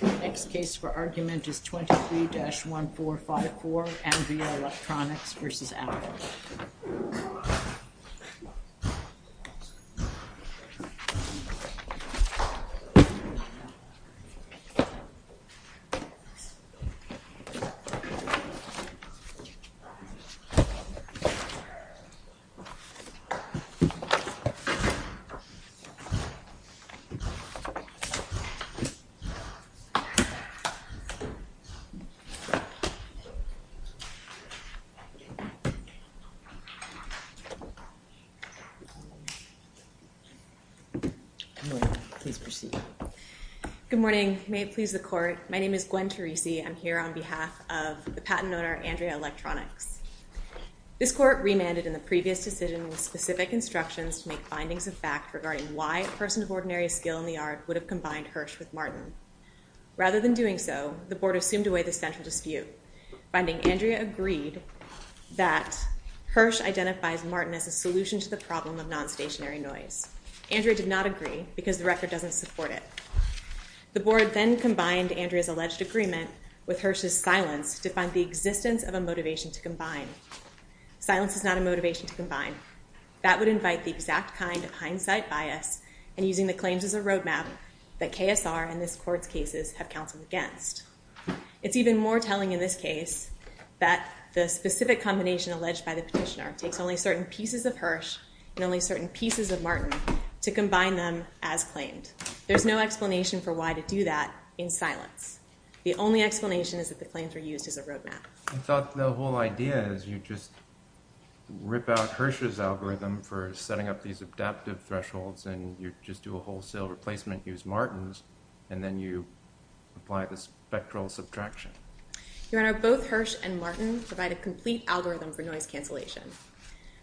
The next case for argument is 23-1454, Andrea Electronics v. Apple. Good morning. May it please the court, my name is Gwen Teresi. I'm here on behalf of the patent owner, Andrea Electronics. This court remanded in the previous decision with specific instructions to make findings of fact regarding why a person of ordinary skill in the art would have combined Hirsch with Martin. Rather than doing so, the board assumed away the central dispute, finding Andrea agreed that Hirsch identifies Martin as a solution to the problem of non-stationary noise. Andrea did not agree because the record doesn't support it. The board then combined Andrea's alleged agreement with Hirsch's silence to find the existence of a motivation to combine. Silence is not a motivation to combine. That would invite the exact kind of hindsight bias and using the claims as a roadmap that KSR and this court's cases have counseled against. It's even more telling in this case that the specific combination alleged by the petitioner takes only certain pieces of Hirsch and only certain pieces of Martin to combine them as claimed. There's no explanation for why to do that in silence. The only explanation is that the claims were used as a roadmap. I thought the whole idea is you just rip out Hirsch's algorithm for setting up these adaptive thresholds and you just do a wholesale replacement, use Martin's, and then you apply the spectral subtraction. Your Honor, both Hirsch and Martin provide a complete algorithm for noise cancellation.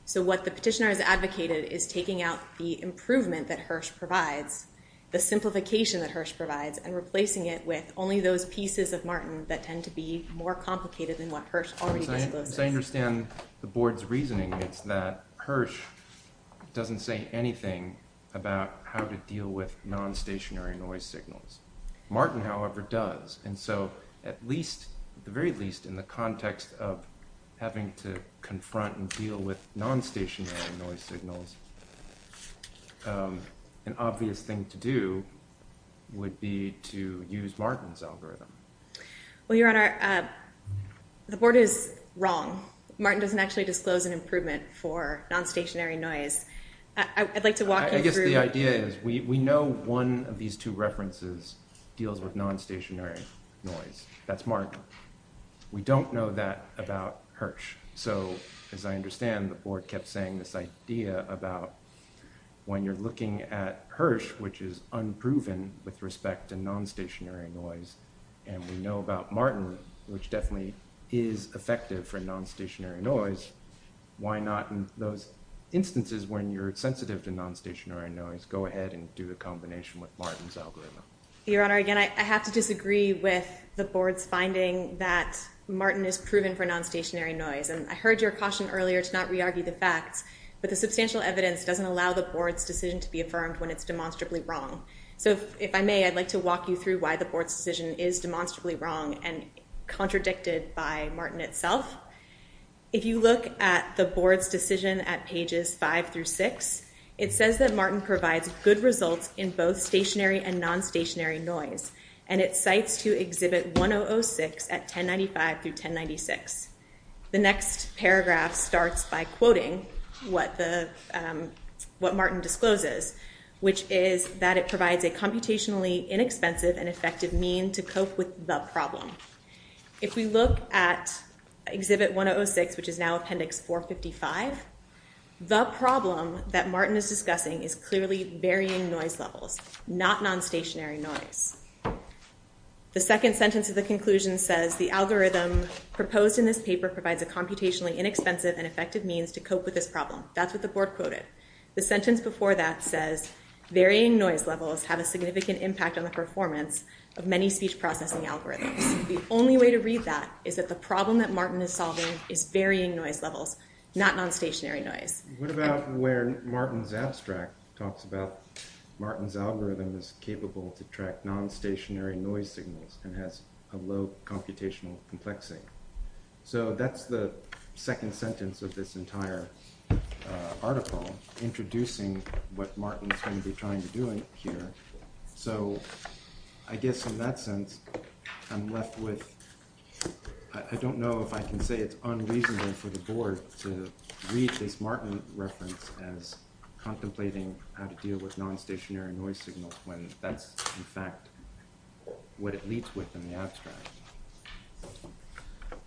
So what the petitioner has advocated is taking out the improvement that Hirsch provides, the simplification that Hirsch provides, and replacing it with only those pieces of Martin that tend to be more complicated than what Hirsch already discloses. So I understand the board's reasoning. It's that Hirsch doesn't say anything about how to deal with non-stationary noise signals. Martin, however, does. And so at least, at the very least, in the context of having to confront and deal with non-stationary noise signals, an obvious thing to do would be to use Martin's algorithm. Well, Your Honor, the board is wrong. Martin doesn't actually disclose an improvement for non-stationary noise. I'd like to walk you through... I guess the idea is we know one of these two references deals with non-stationary noise. That's Martin. We don't know that about Hirsch. So as I understand, the board kept saying this idea about when you're looking at Hirsch, which is unproven with respect to non-stationary noise, and we know about Martin, which definitely is effective for non-stationary noise, why not in those instances when you're sensitive to non-stationary noise, go ahead and do a combination with Martin's algorithm? Your Honor, again, I have to disagree with the board's finding that Martin is proven for non-stationary noise. And I heard your caution earlier to not re-argue the facts, but the substantial evidence doesn't allow the board's decision to be affirmed when it's demonstrably wrong. So if I may, I'd like to walk you through why the board's decision is demonstrably wrong and contradicted by Martin itself. If you look at the board's decision at pages five through six, it says that Martin provides good results in both stationary and non-stationary noise, and it cites to Exhibit 1006 at 1095 through 1096. The next paragraph starts by quoting what Martin discloses, which is that it provides a computationally inexpensive and effective mean to cope with the problem. If we look at Exhibit 1006, which is now Appendix 455, the problem that Martin is discussing is clearly varying noise levels, not non-stationary noise. The second sentence of the conclusion says, the algorithm proposed in this paper provides a computationally inexpensive and effective means to cope with this problem. That's what the board quoted. The sentence before that says, varying noise levels have a significant impact on the performance of many speech processing algorithms. The only way to read that is that the problem that Martin is solving is varying noise levels, not non-stationary noise. What about where Martin's abstract talks about Martin's algorithm is capable to track non-stationary noise signals and has a low computational complexity? So that's the second sentence of this entire article, introducing what Martin's going to be trying to do here. So, I guess in that sense, I'm left with, I don't know if I can say it's unreasonable for the board to read this Martin reference as contemplating how to deal with non-stationary noise signals when that's, in fact, what it leads with in the abstract.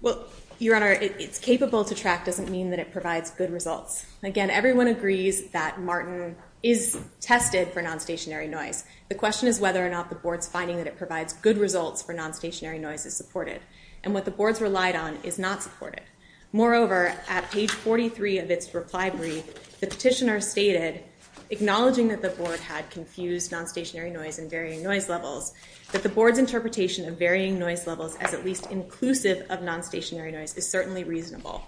Well, Your Honor, it's capable to track doesn't mean that it provides good results. Again, everyone agrees that Martin is tested for non-stationary noise. The question is whether or not the board's finding that it provides good results for non-stationary noise is supported. And what the board's relied on is not supported. Moreover, at page 43 of its reply brief, the petitioner stated, acknowledging that the board had confused non-stationary noise and varying noise levels, that the board's interpretation of varying noise levels as at least inclusive of non-stationary noise is certainly reasonable.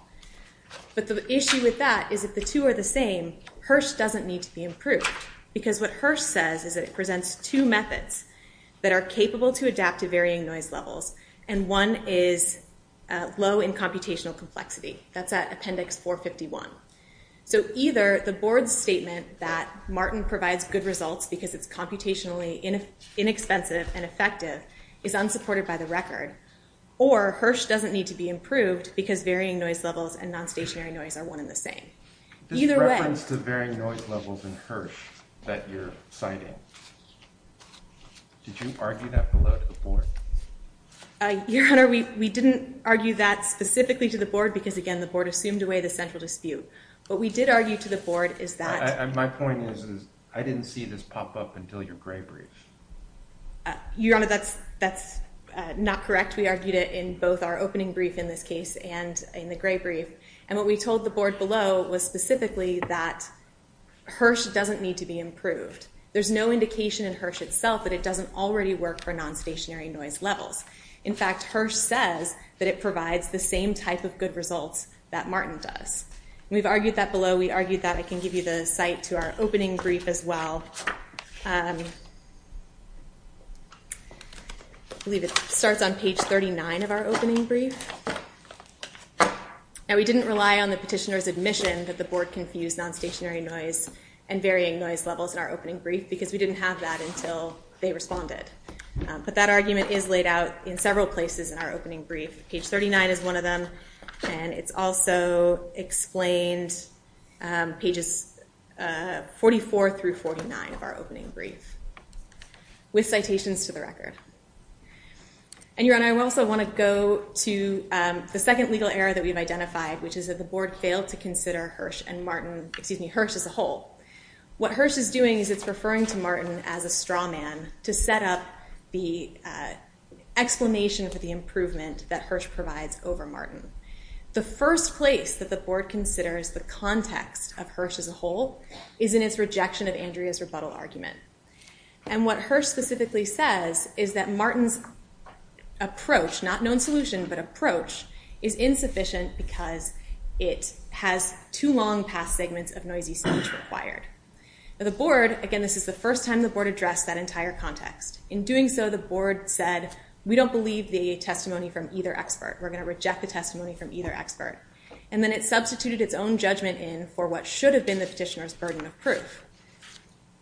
But the issue with that is if the two are the same, Hirsch doesn't need to be improved. Because what Hirsch says is that it presents two methods that are capable to adapt to varying noise levels, and one is low in computational complexity. That's at appendix 451. So either the board's statement that Martin provides good results because it's computationally inexpensive and effective is unsupported by the record, or Hirsch doesn't need to be improved because varying noise levels and non-stationary noise are one and the same. Either way— What's the varying noise levels in Hirsch that you're citing? Did you argue that below to the board? Your Honor, we didn't argue that specifically to the board because, again, the board assumed away the central dispute. What we did argue to the board is that— My point is I didn't see this pop up until your gray brief. Your Honor, that's not correct. We argued it in both our opening brief in this case and in the gray brief, and what we told the board below was specifically that Hirsch doesn't need to be improved. There's no indication in Hirsch itself that it doesn't already work for non-stationary noise levels. In fact, Hirsch says that it provides the same type of good results that Martin does. We've argued that below. We argued that. I can give you the site to our opening brief as well. I believe it starts on page 39 of our opening brief. Now, we didn't rely on the petitioner's admission that the board confused non-stationary noise and varying noise levels in our opening brief because we didn't have that until they responded. But that argument is laid out in several places in our opening brief. Page 39 is one of them, and it's also explained pages 44 through 49 of our opening brief with citations to the record. And, Your Honor, I also want to go to the second legal error that we've identified, which is that the board failed to consider Hirsch and Martin—excuse me, Hirsch as a whole. What Hirsch is doing is it's referring to Martin as a straw man to set up the explanation for the improvement that Hirsch provides over Martin. The first place that the board considers the context of Hirsch as a whole is in its rejection of Andrea's rebuttal argument. And what Hirsch specifically says is that Martin's approach—not known solution, but approach— is insufficient because it has too long past segments of noisy speech required. Now, the board—again, this is the first time the board addressed that entire context. In doing so, the board said, we don't believe the testimony from either expert. We're going to reject the testimony from either expert. And then it substituted its own judgment in for what should have been the petitioner's burden of proof.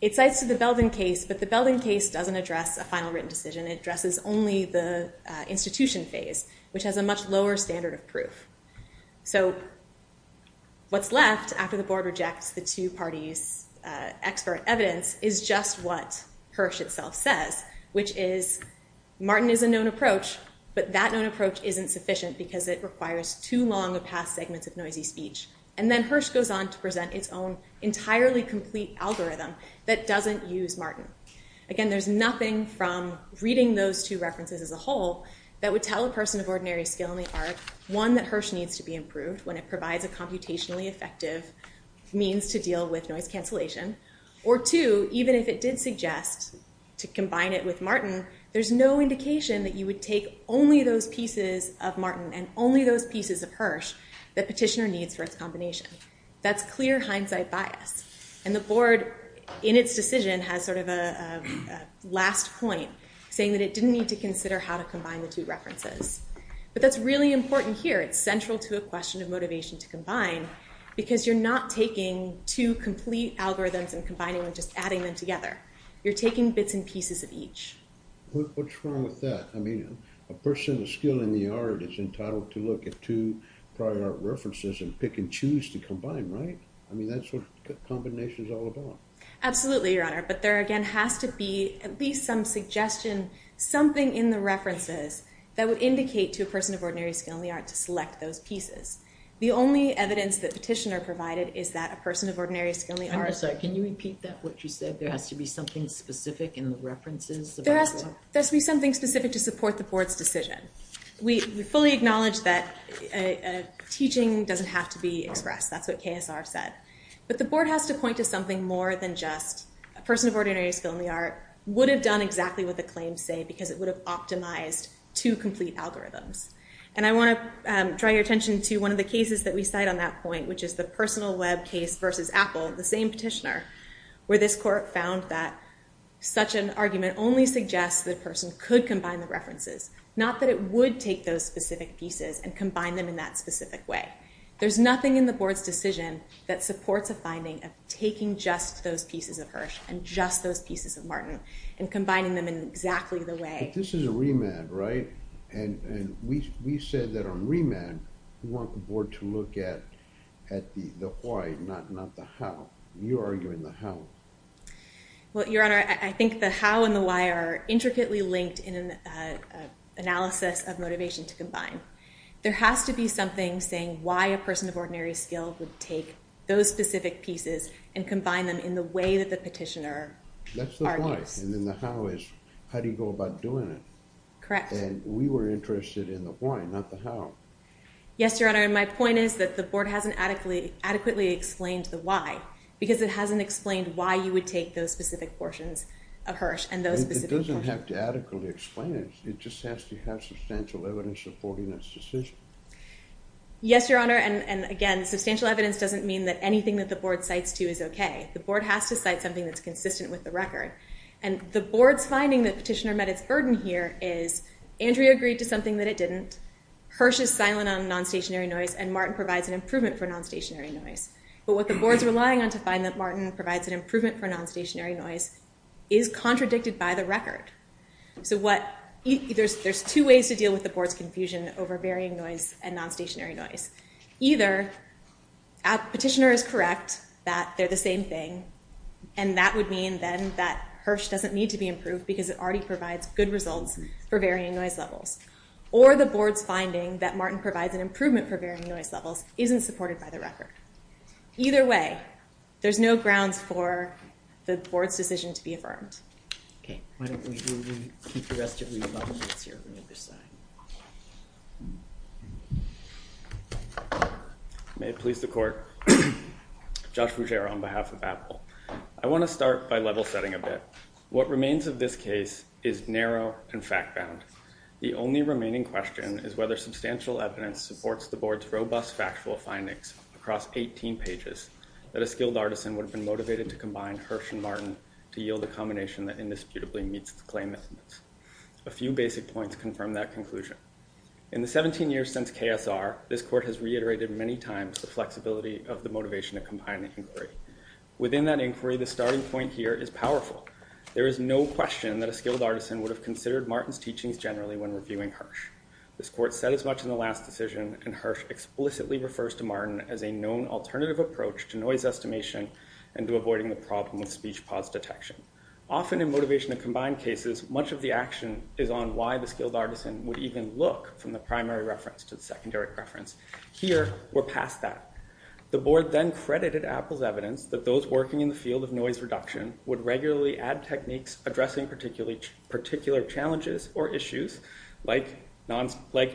It cites the Belden case, but the Belden case doesn't address a final written decision. It addresses only the institution phase, which has a much lower standard of proof. So what's left after the board rejects the two parties' expert evidence is just what Hirsch itself says, which is Martin is a known approach, but that known approach isn't sufficient because it requires too long of past segments of noisy speech. And then Hirsch goes on to present its own entirely complete algorithm that doesn't use Martin. Again, there's nothing from reading those two references as a whole that would tell a person of ordinary skill in the art, one, that Hirsch needs to be improved when it provides a computationally effective means to deal with noise cancellation, or two, even if it did suggest to combine it with Martin, there's no indication that you would take only those pieces of Martin and only those pieces of Hirsch that petitioner needs for its combination. That's clear hindsight bias. And the board, in its decision, has sort of a last point, saying that it didn't need to consider how to combine the two references. But that's really important here. It's central to a question of motivation to combine because you're not taking two complete algorithms and combining and just adding them together. You're taking bits and pieces of each. What's wrong with that? I mean, a person of skill in the art is entitled to look at two prior art references and pick and choose to combine, right? I mean, that's what combination is all about. Absolutely, Your Honor. But there, again, has to be at least some suggestion, something in the references that would indicate to a person of ordinary skill in the art to select those pieces. The only evidence that petitioner provided is that a person of ordinary skill in the art. I'm sorry. Can you repeat that, what you said? There has to be something specific in the references? There has to be something specific to support the board's decision. We fully acknowledge that teaching doesn't have to be expressed. That's what KSR said. But the board has to point to something more than just a person of ordinary skill in the art would have done exactly what the claims say because it would have optimized two complete algorithms. And I want to draw your attention to one of the cases that we cite on that point, which is the personal web case versus Apple, the same petitioner, where this court found that such an argument only suggests that a person could combine the references, not that it would take those specific pieces and combine them in that specific way. There's nothing in the board's decision that supports a finding of taking just those pieces of Hirsch and just those pieces of Martin and combining them in exactly the way. But this is a remand, right? And we said that on remand we want the board to look at the why, not the how. You're arguing the how. Well, Your Honor, I think the how and the why are intricately linked in an analysis of motivation to combine. There has to be something saying why a person of ordinary skill would take those specific pieces and combine them in the way that the petitioner argues. That's the why, and then the how is how do you go about doing it. Correct. And we were interested in the why, not the how. Yes, Your Honor, and my point is that the board hasn't adequately explained the why because it hasn't explained why you would take those specific portions of Hirsch and those specific portions. It doesn't have to adequately explain it. It just has to have substantial evidence supporting its decision. Yes, Your Honor, and again, substantial evidence doesn't mean that anything that the board cites to is okay. The board has to cite something that's consistent with the record, and the board's finding that petitioner met its burden here is Andrea agreed to something that it didn't, Hirsch is silent on non-stationary noise, and Martin provides an improvement for non-stationary noise. But what the board's relying on to find that Martin provides an improvement for non-stationary noise is contradicted by the record. So there's two ways to deal with the board's confusion over varying noise and non-stationary noise. Either petitioner is correct that they're the same thing, and that would mean then that Hirsch doesn't need to be improved because it already provides good results for varying noise levels, or the board's finding that Martin provides an improvement for varying noise levels isn't supported by the record. Either way, there's no grounds for the board's decision to be affirmed. Okay, why don't we keep the rest of these documents here on the other side. May it please the court. Josh Ruggiero on behalf of Apple. I want to start by level setting a bit. What remains of this case is narrow and fact-bound. The only remaining question is whether substantial evidence supports the board's robust factual findings across 18 pages that a skilled artisan would have been motivated to combine Hirsch and Martin to yield a combination that indisputably meets the claimant. A few basic points confirm that conclusion. In the 17 years since KSR, this court has reiterated many times the flexibility of the motivation to combine the inquiry. Within that inquiry, the starting point here is powerful. There is no question that a skilled artisan would have considered Martin's teachings generally when reviewing Hirsch. This court said as much in the last decision, and Hirsch explicitly refers to Martin as a known alternative approach to noise estimation and to avoiding the problem with speech pause detection. Often in motivation to combine cases, much of the action is on why the skilled artisan would even look from the primary reference to the secondary reference. Here, we're past that. The board then credited Apple's evidence that those working in the field of noise reduction would regularly add techniques addressing particular challenges or issues, like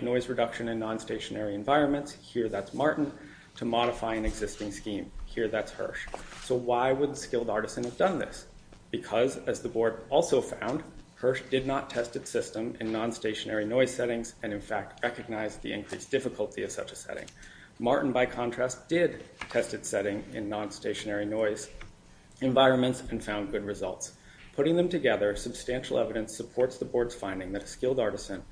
noise reduction in non-stationary environments. Here, that's Martin, to modify an existing scheme. Here, that's Hirsch. So why would a skilled artisan have done this? Because, as the board also found, Hirsch did not test its system in non-stationary noise settings and, in fact, recognized the increased difficulty of such a setting. Martin, by contrast, did test its setting in non-stationary noise environments and found good results. Putting them together, substantial evidence supports the board's finding that a skilled artisan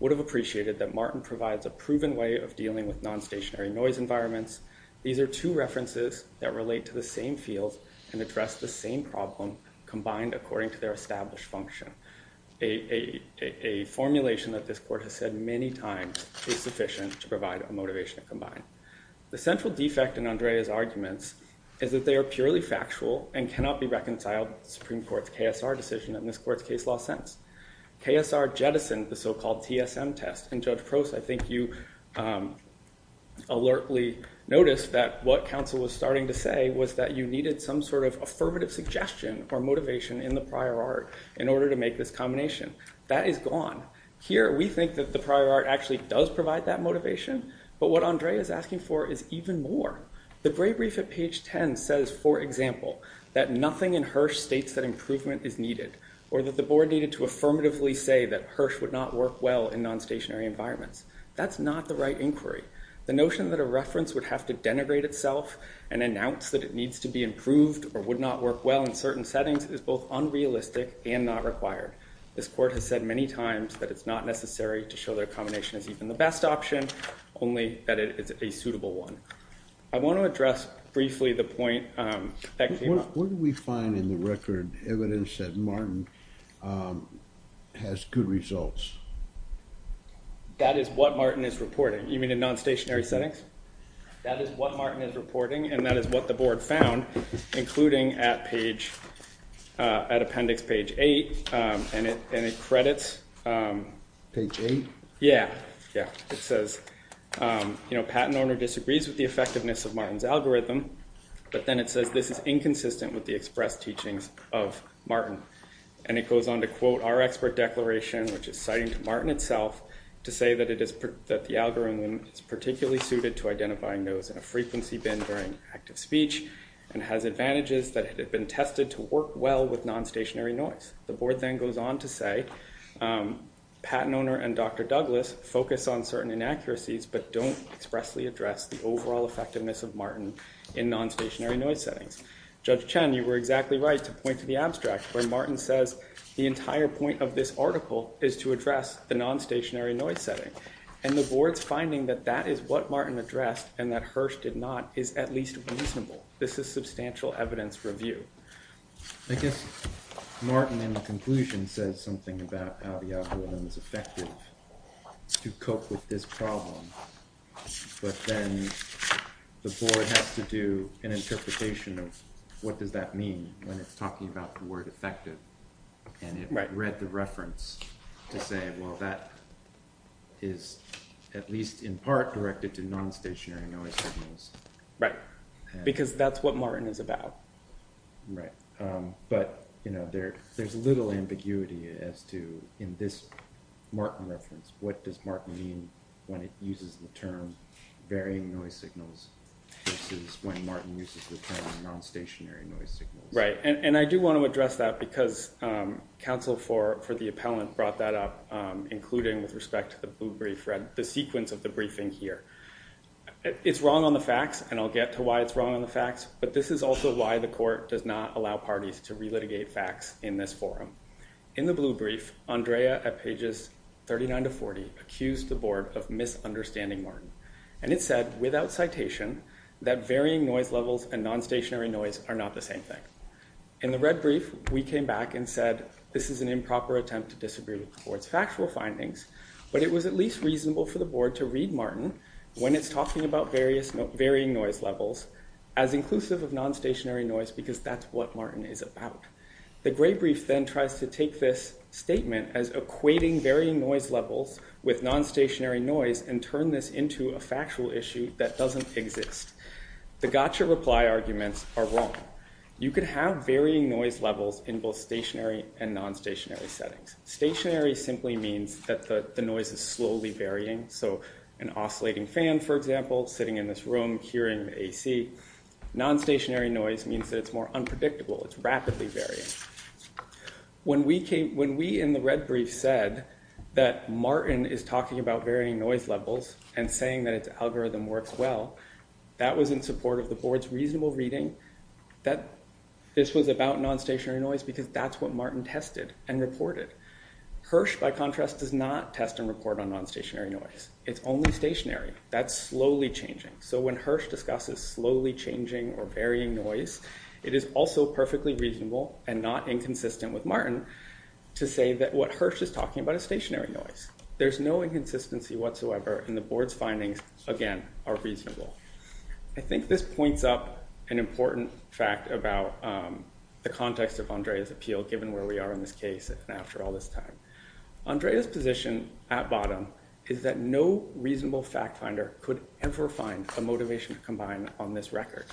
would have appreciated that Martin provides a proven way of dealing with non-stationary noise environments. These are two references that relate to the same field and address the same problem combined according to their established function. A formulation that this court has said many times is sufficient to provide a motivation to combine. The central defect in Andrea's arguments is that they are purely factual and cannot be reconciled with the Supreme Court's KSR decision and this court's case law sentence. KSR jettisoned the so-called TSM test, and Judge Prost, I think you alertly noticed that what counsel was starting to say was that you needed some sort of affirmative suggestion or motivation in the prior art in order to make this combination. That is gone. Here, we think that the prior art actually does provide that motivation, but what Andrea is asking for is even more. The brief at page 10 says, for example, that nothing in Hirsch states that improvement is needed or that the board needed to affirmatively say that Hirsch would not work well in non-stationary environments. That's not the right inquiry. The notion that a reference would have to denigrate itself and announce that it needs to be improved or would not work well in certain settings is both unrealistic and not required. This court has said many times that it's not necessary to show that a combination is even the best option, only that it is a suitable one. I want to address briefly the point that came up. What did we find in the record evidence that Martin has good results? That is what Martin is reporting. You mean in non-stationary settings? That is what Martin is reporting, and that is what the board found, including at appendix page 8, and it credits. Page 8? Yes. It says, you know, patent owner disagrees with the effectiveness of Martin's algorithm, but then it says this is inconsistent with the express teachings of Martin. And it goes on to quote our expert declaration, which is citing to Martin itself, to say that the algorithm is particularly suited to identifying those in a frequency bin during active speech and has advantages that have been tested to work well with non-stationary noise. The board then goes on to say, patent owner and Dr. Douglas focus on certain inaccuracies but don't expressly address the overall effectiveness of Martin in non-stationary noise settings. Judge Chen, you were exactly right to point to the abstract where Martin says the entire point of this article is to address the non-stationary noise setting. And the board's finding that that is what Martin addressed and that Hirsch did not is at least reasonable. This is substantial evidence review. I guess Martin, in the conclusion, says something about how the algorithm is effective to cope with this problem. But then the board has to do an interpretation of what does that mean when it's talking about the word effective. And it read the reference to say, well, that is at least in part directed to non-stationary noise signals. Right, because that's what Martin is about. Right, but there's little ambiguity as to, in this Martin reference, what does Martin mean when it uses the term varying noise signals versus when Martin uses the term non-stationary noise signals. Right, and I do want to address that because counsel for the appellant brought that up, including with respect to the blue brief, the sequence of the briefing here. It's wrong on the facts, and I'll get to why it's wrong on the facts, but this is also why the court does not allow parties to relitigate facts in this forum. In the blue brief, Andrea, at pages 39 to 40, accused the board of misunderstanding Martin. And it said, without citation, that varying noise levels and non-stationary noise are not the same thing. In the red brief, we came back and said, this is an improper attempt to disagree with the board's factual findings, but it was at least reasonable for the board to read Martin when it's talking about varying noise levels as inclusive of non-stationary noise because that's what Martin is about. The gray brief then tries to take this statement as equating varying noise levels with non-stationary noise and turn this into a factual issue that doesn't exist. The gotcha reply arguments are wrong. You could have varying noise levels in both stationary and non-stationary settings. Stationary simply means that the noise is slowly varying. So an oscillating fan, for example, sitting in this room, hearing the AC. Non-stationary noise means that it's more unpredictable. It's rapidly varying. When we in the red brief said that Martin is talking about varying noise levels and saying that its algorithm works well, that was in support of the board's reasonable reading that this was about non-stationary noise because that's what Martin tested and reported. Hirsch, by contrast, does not test and report on non-stationary noise. It's only stationary. That's slowly changing. So when Hirsch discusses slowly changing or varying noise, it is also perfectly reasonable and not inconsistent with Martin to say that what Hirsch is talking about is stationary noise. There's no inconsistency whatsoever, and the board's findings, again, are reasonable. I think this points up an important fact about the context of Andrea's appeal, given where we are in this case and after all this time. Andrea's position at bottom is that no reasonable fact finder could ever find a motivation to combine on this record.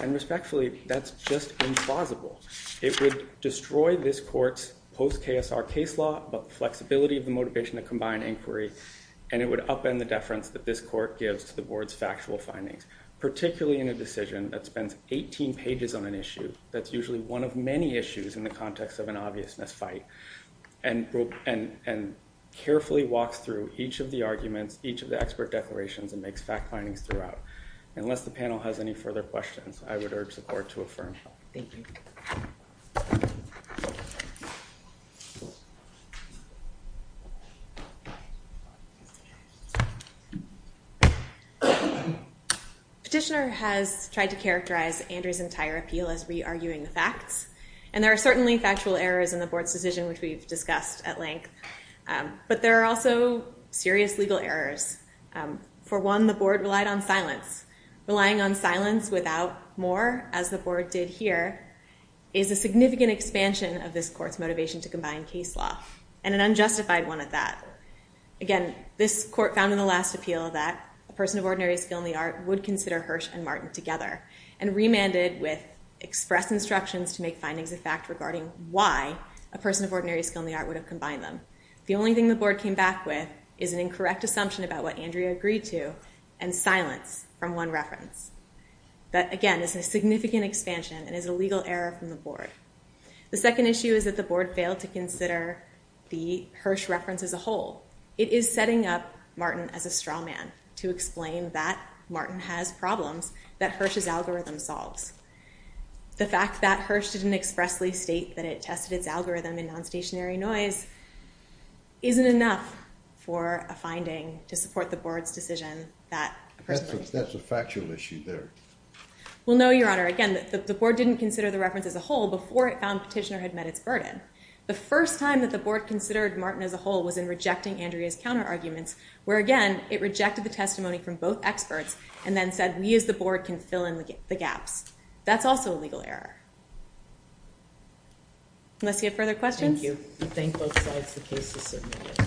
And respectfully, that's just implausible. It would destroy this court's post-KSR case law about the flexibility of the motivation to combine inquiry, and it would upend the deference that this court gives to the board's factual findings, particularly in a decision that spends 18 pages on an issue that's usually one of many issues in the context of an obviousness fight and carefully walks through each of the arguments, each of the expert declarations, and makes fact findings throughout. Unless the panel has any further questions, I would urge the court to affirm. Thank you. Petitioner has tried to characterize Andrea's entire appeal as re-arguing the facts, and there are certainly factual errors in the board's decision, which we've discussed at length, but there are also serious legal errors. For one, the board relied on silence. Relying on silence without more, as the board did here, is a significant expansion of this court's motivation to combine case law, and an unjustified one at that. Again, this court found in the last appeal that a person of ordinary skill in the art would consider Hirsch and Martin together, and remanded with express instructions to make findings of fact regarding why a person of ordinary skill in the art would have combined them. The only thing the board came back with is an incorrect assumption about what Andrea agreed to, and silence from one reference. That, again, is a significant expansion and is a legal error from the board. The second issue is that the board failed to consider the Hirsch reference as a whole. It is setting up Martin as a straw man to explain that Martin has problems that Hirsch's algorithm solves. The fact that Hirsch didn't expressly state that it tested its algorithm in non-stationary noise isn't enough for a finding to support the board's decision that a person of ordinary skill... That's a factual issue there. Well, no, Your Honor. Again, the board didn't consider the reference as a whole before it found Petitioner had met its burden. The first time that the board considered Martin as a whole was in rejecting Andrea's counter-arguments, where, again, it rejected the testimony from both experts and then said we as the board can fill in the gaps. That's also a legal error. Unless you have further questions? Thank you. We thank both sides. The case is submitted.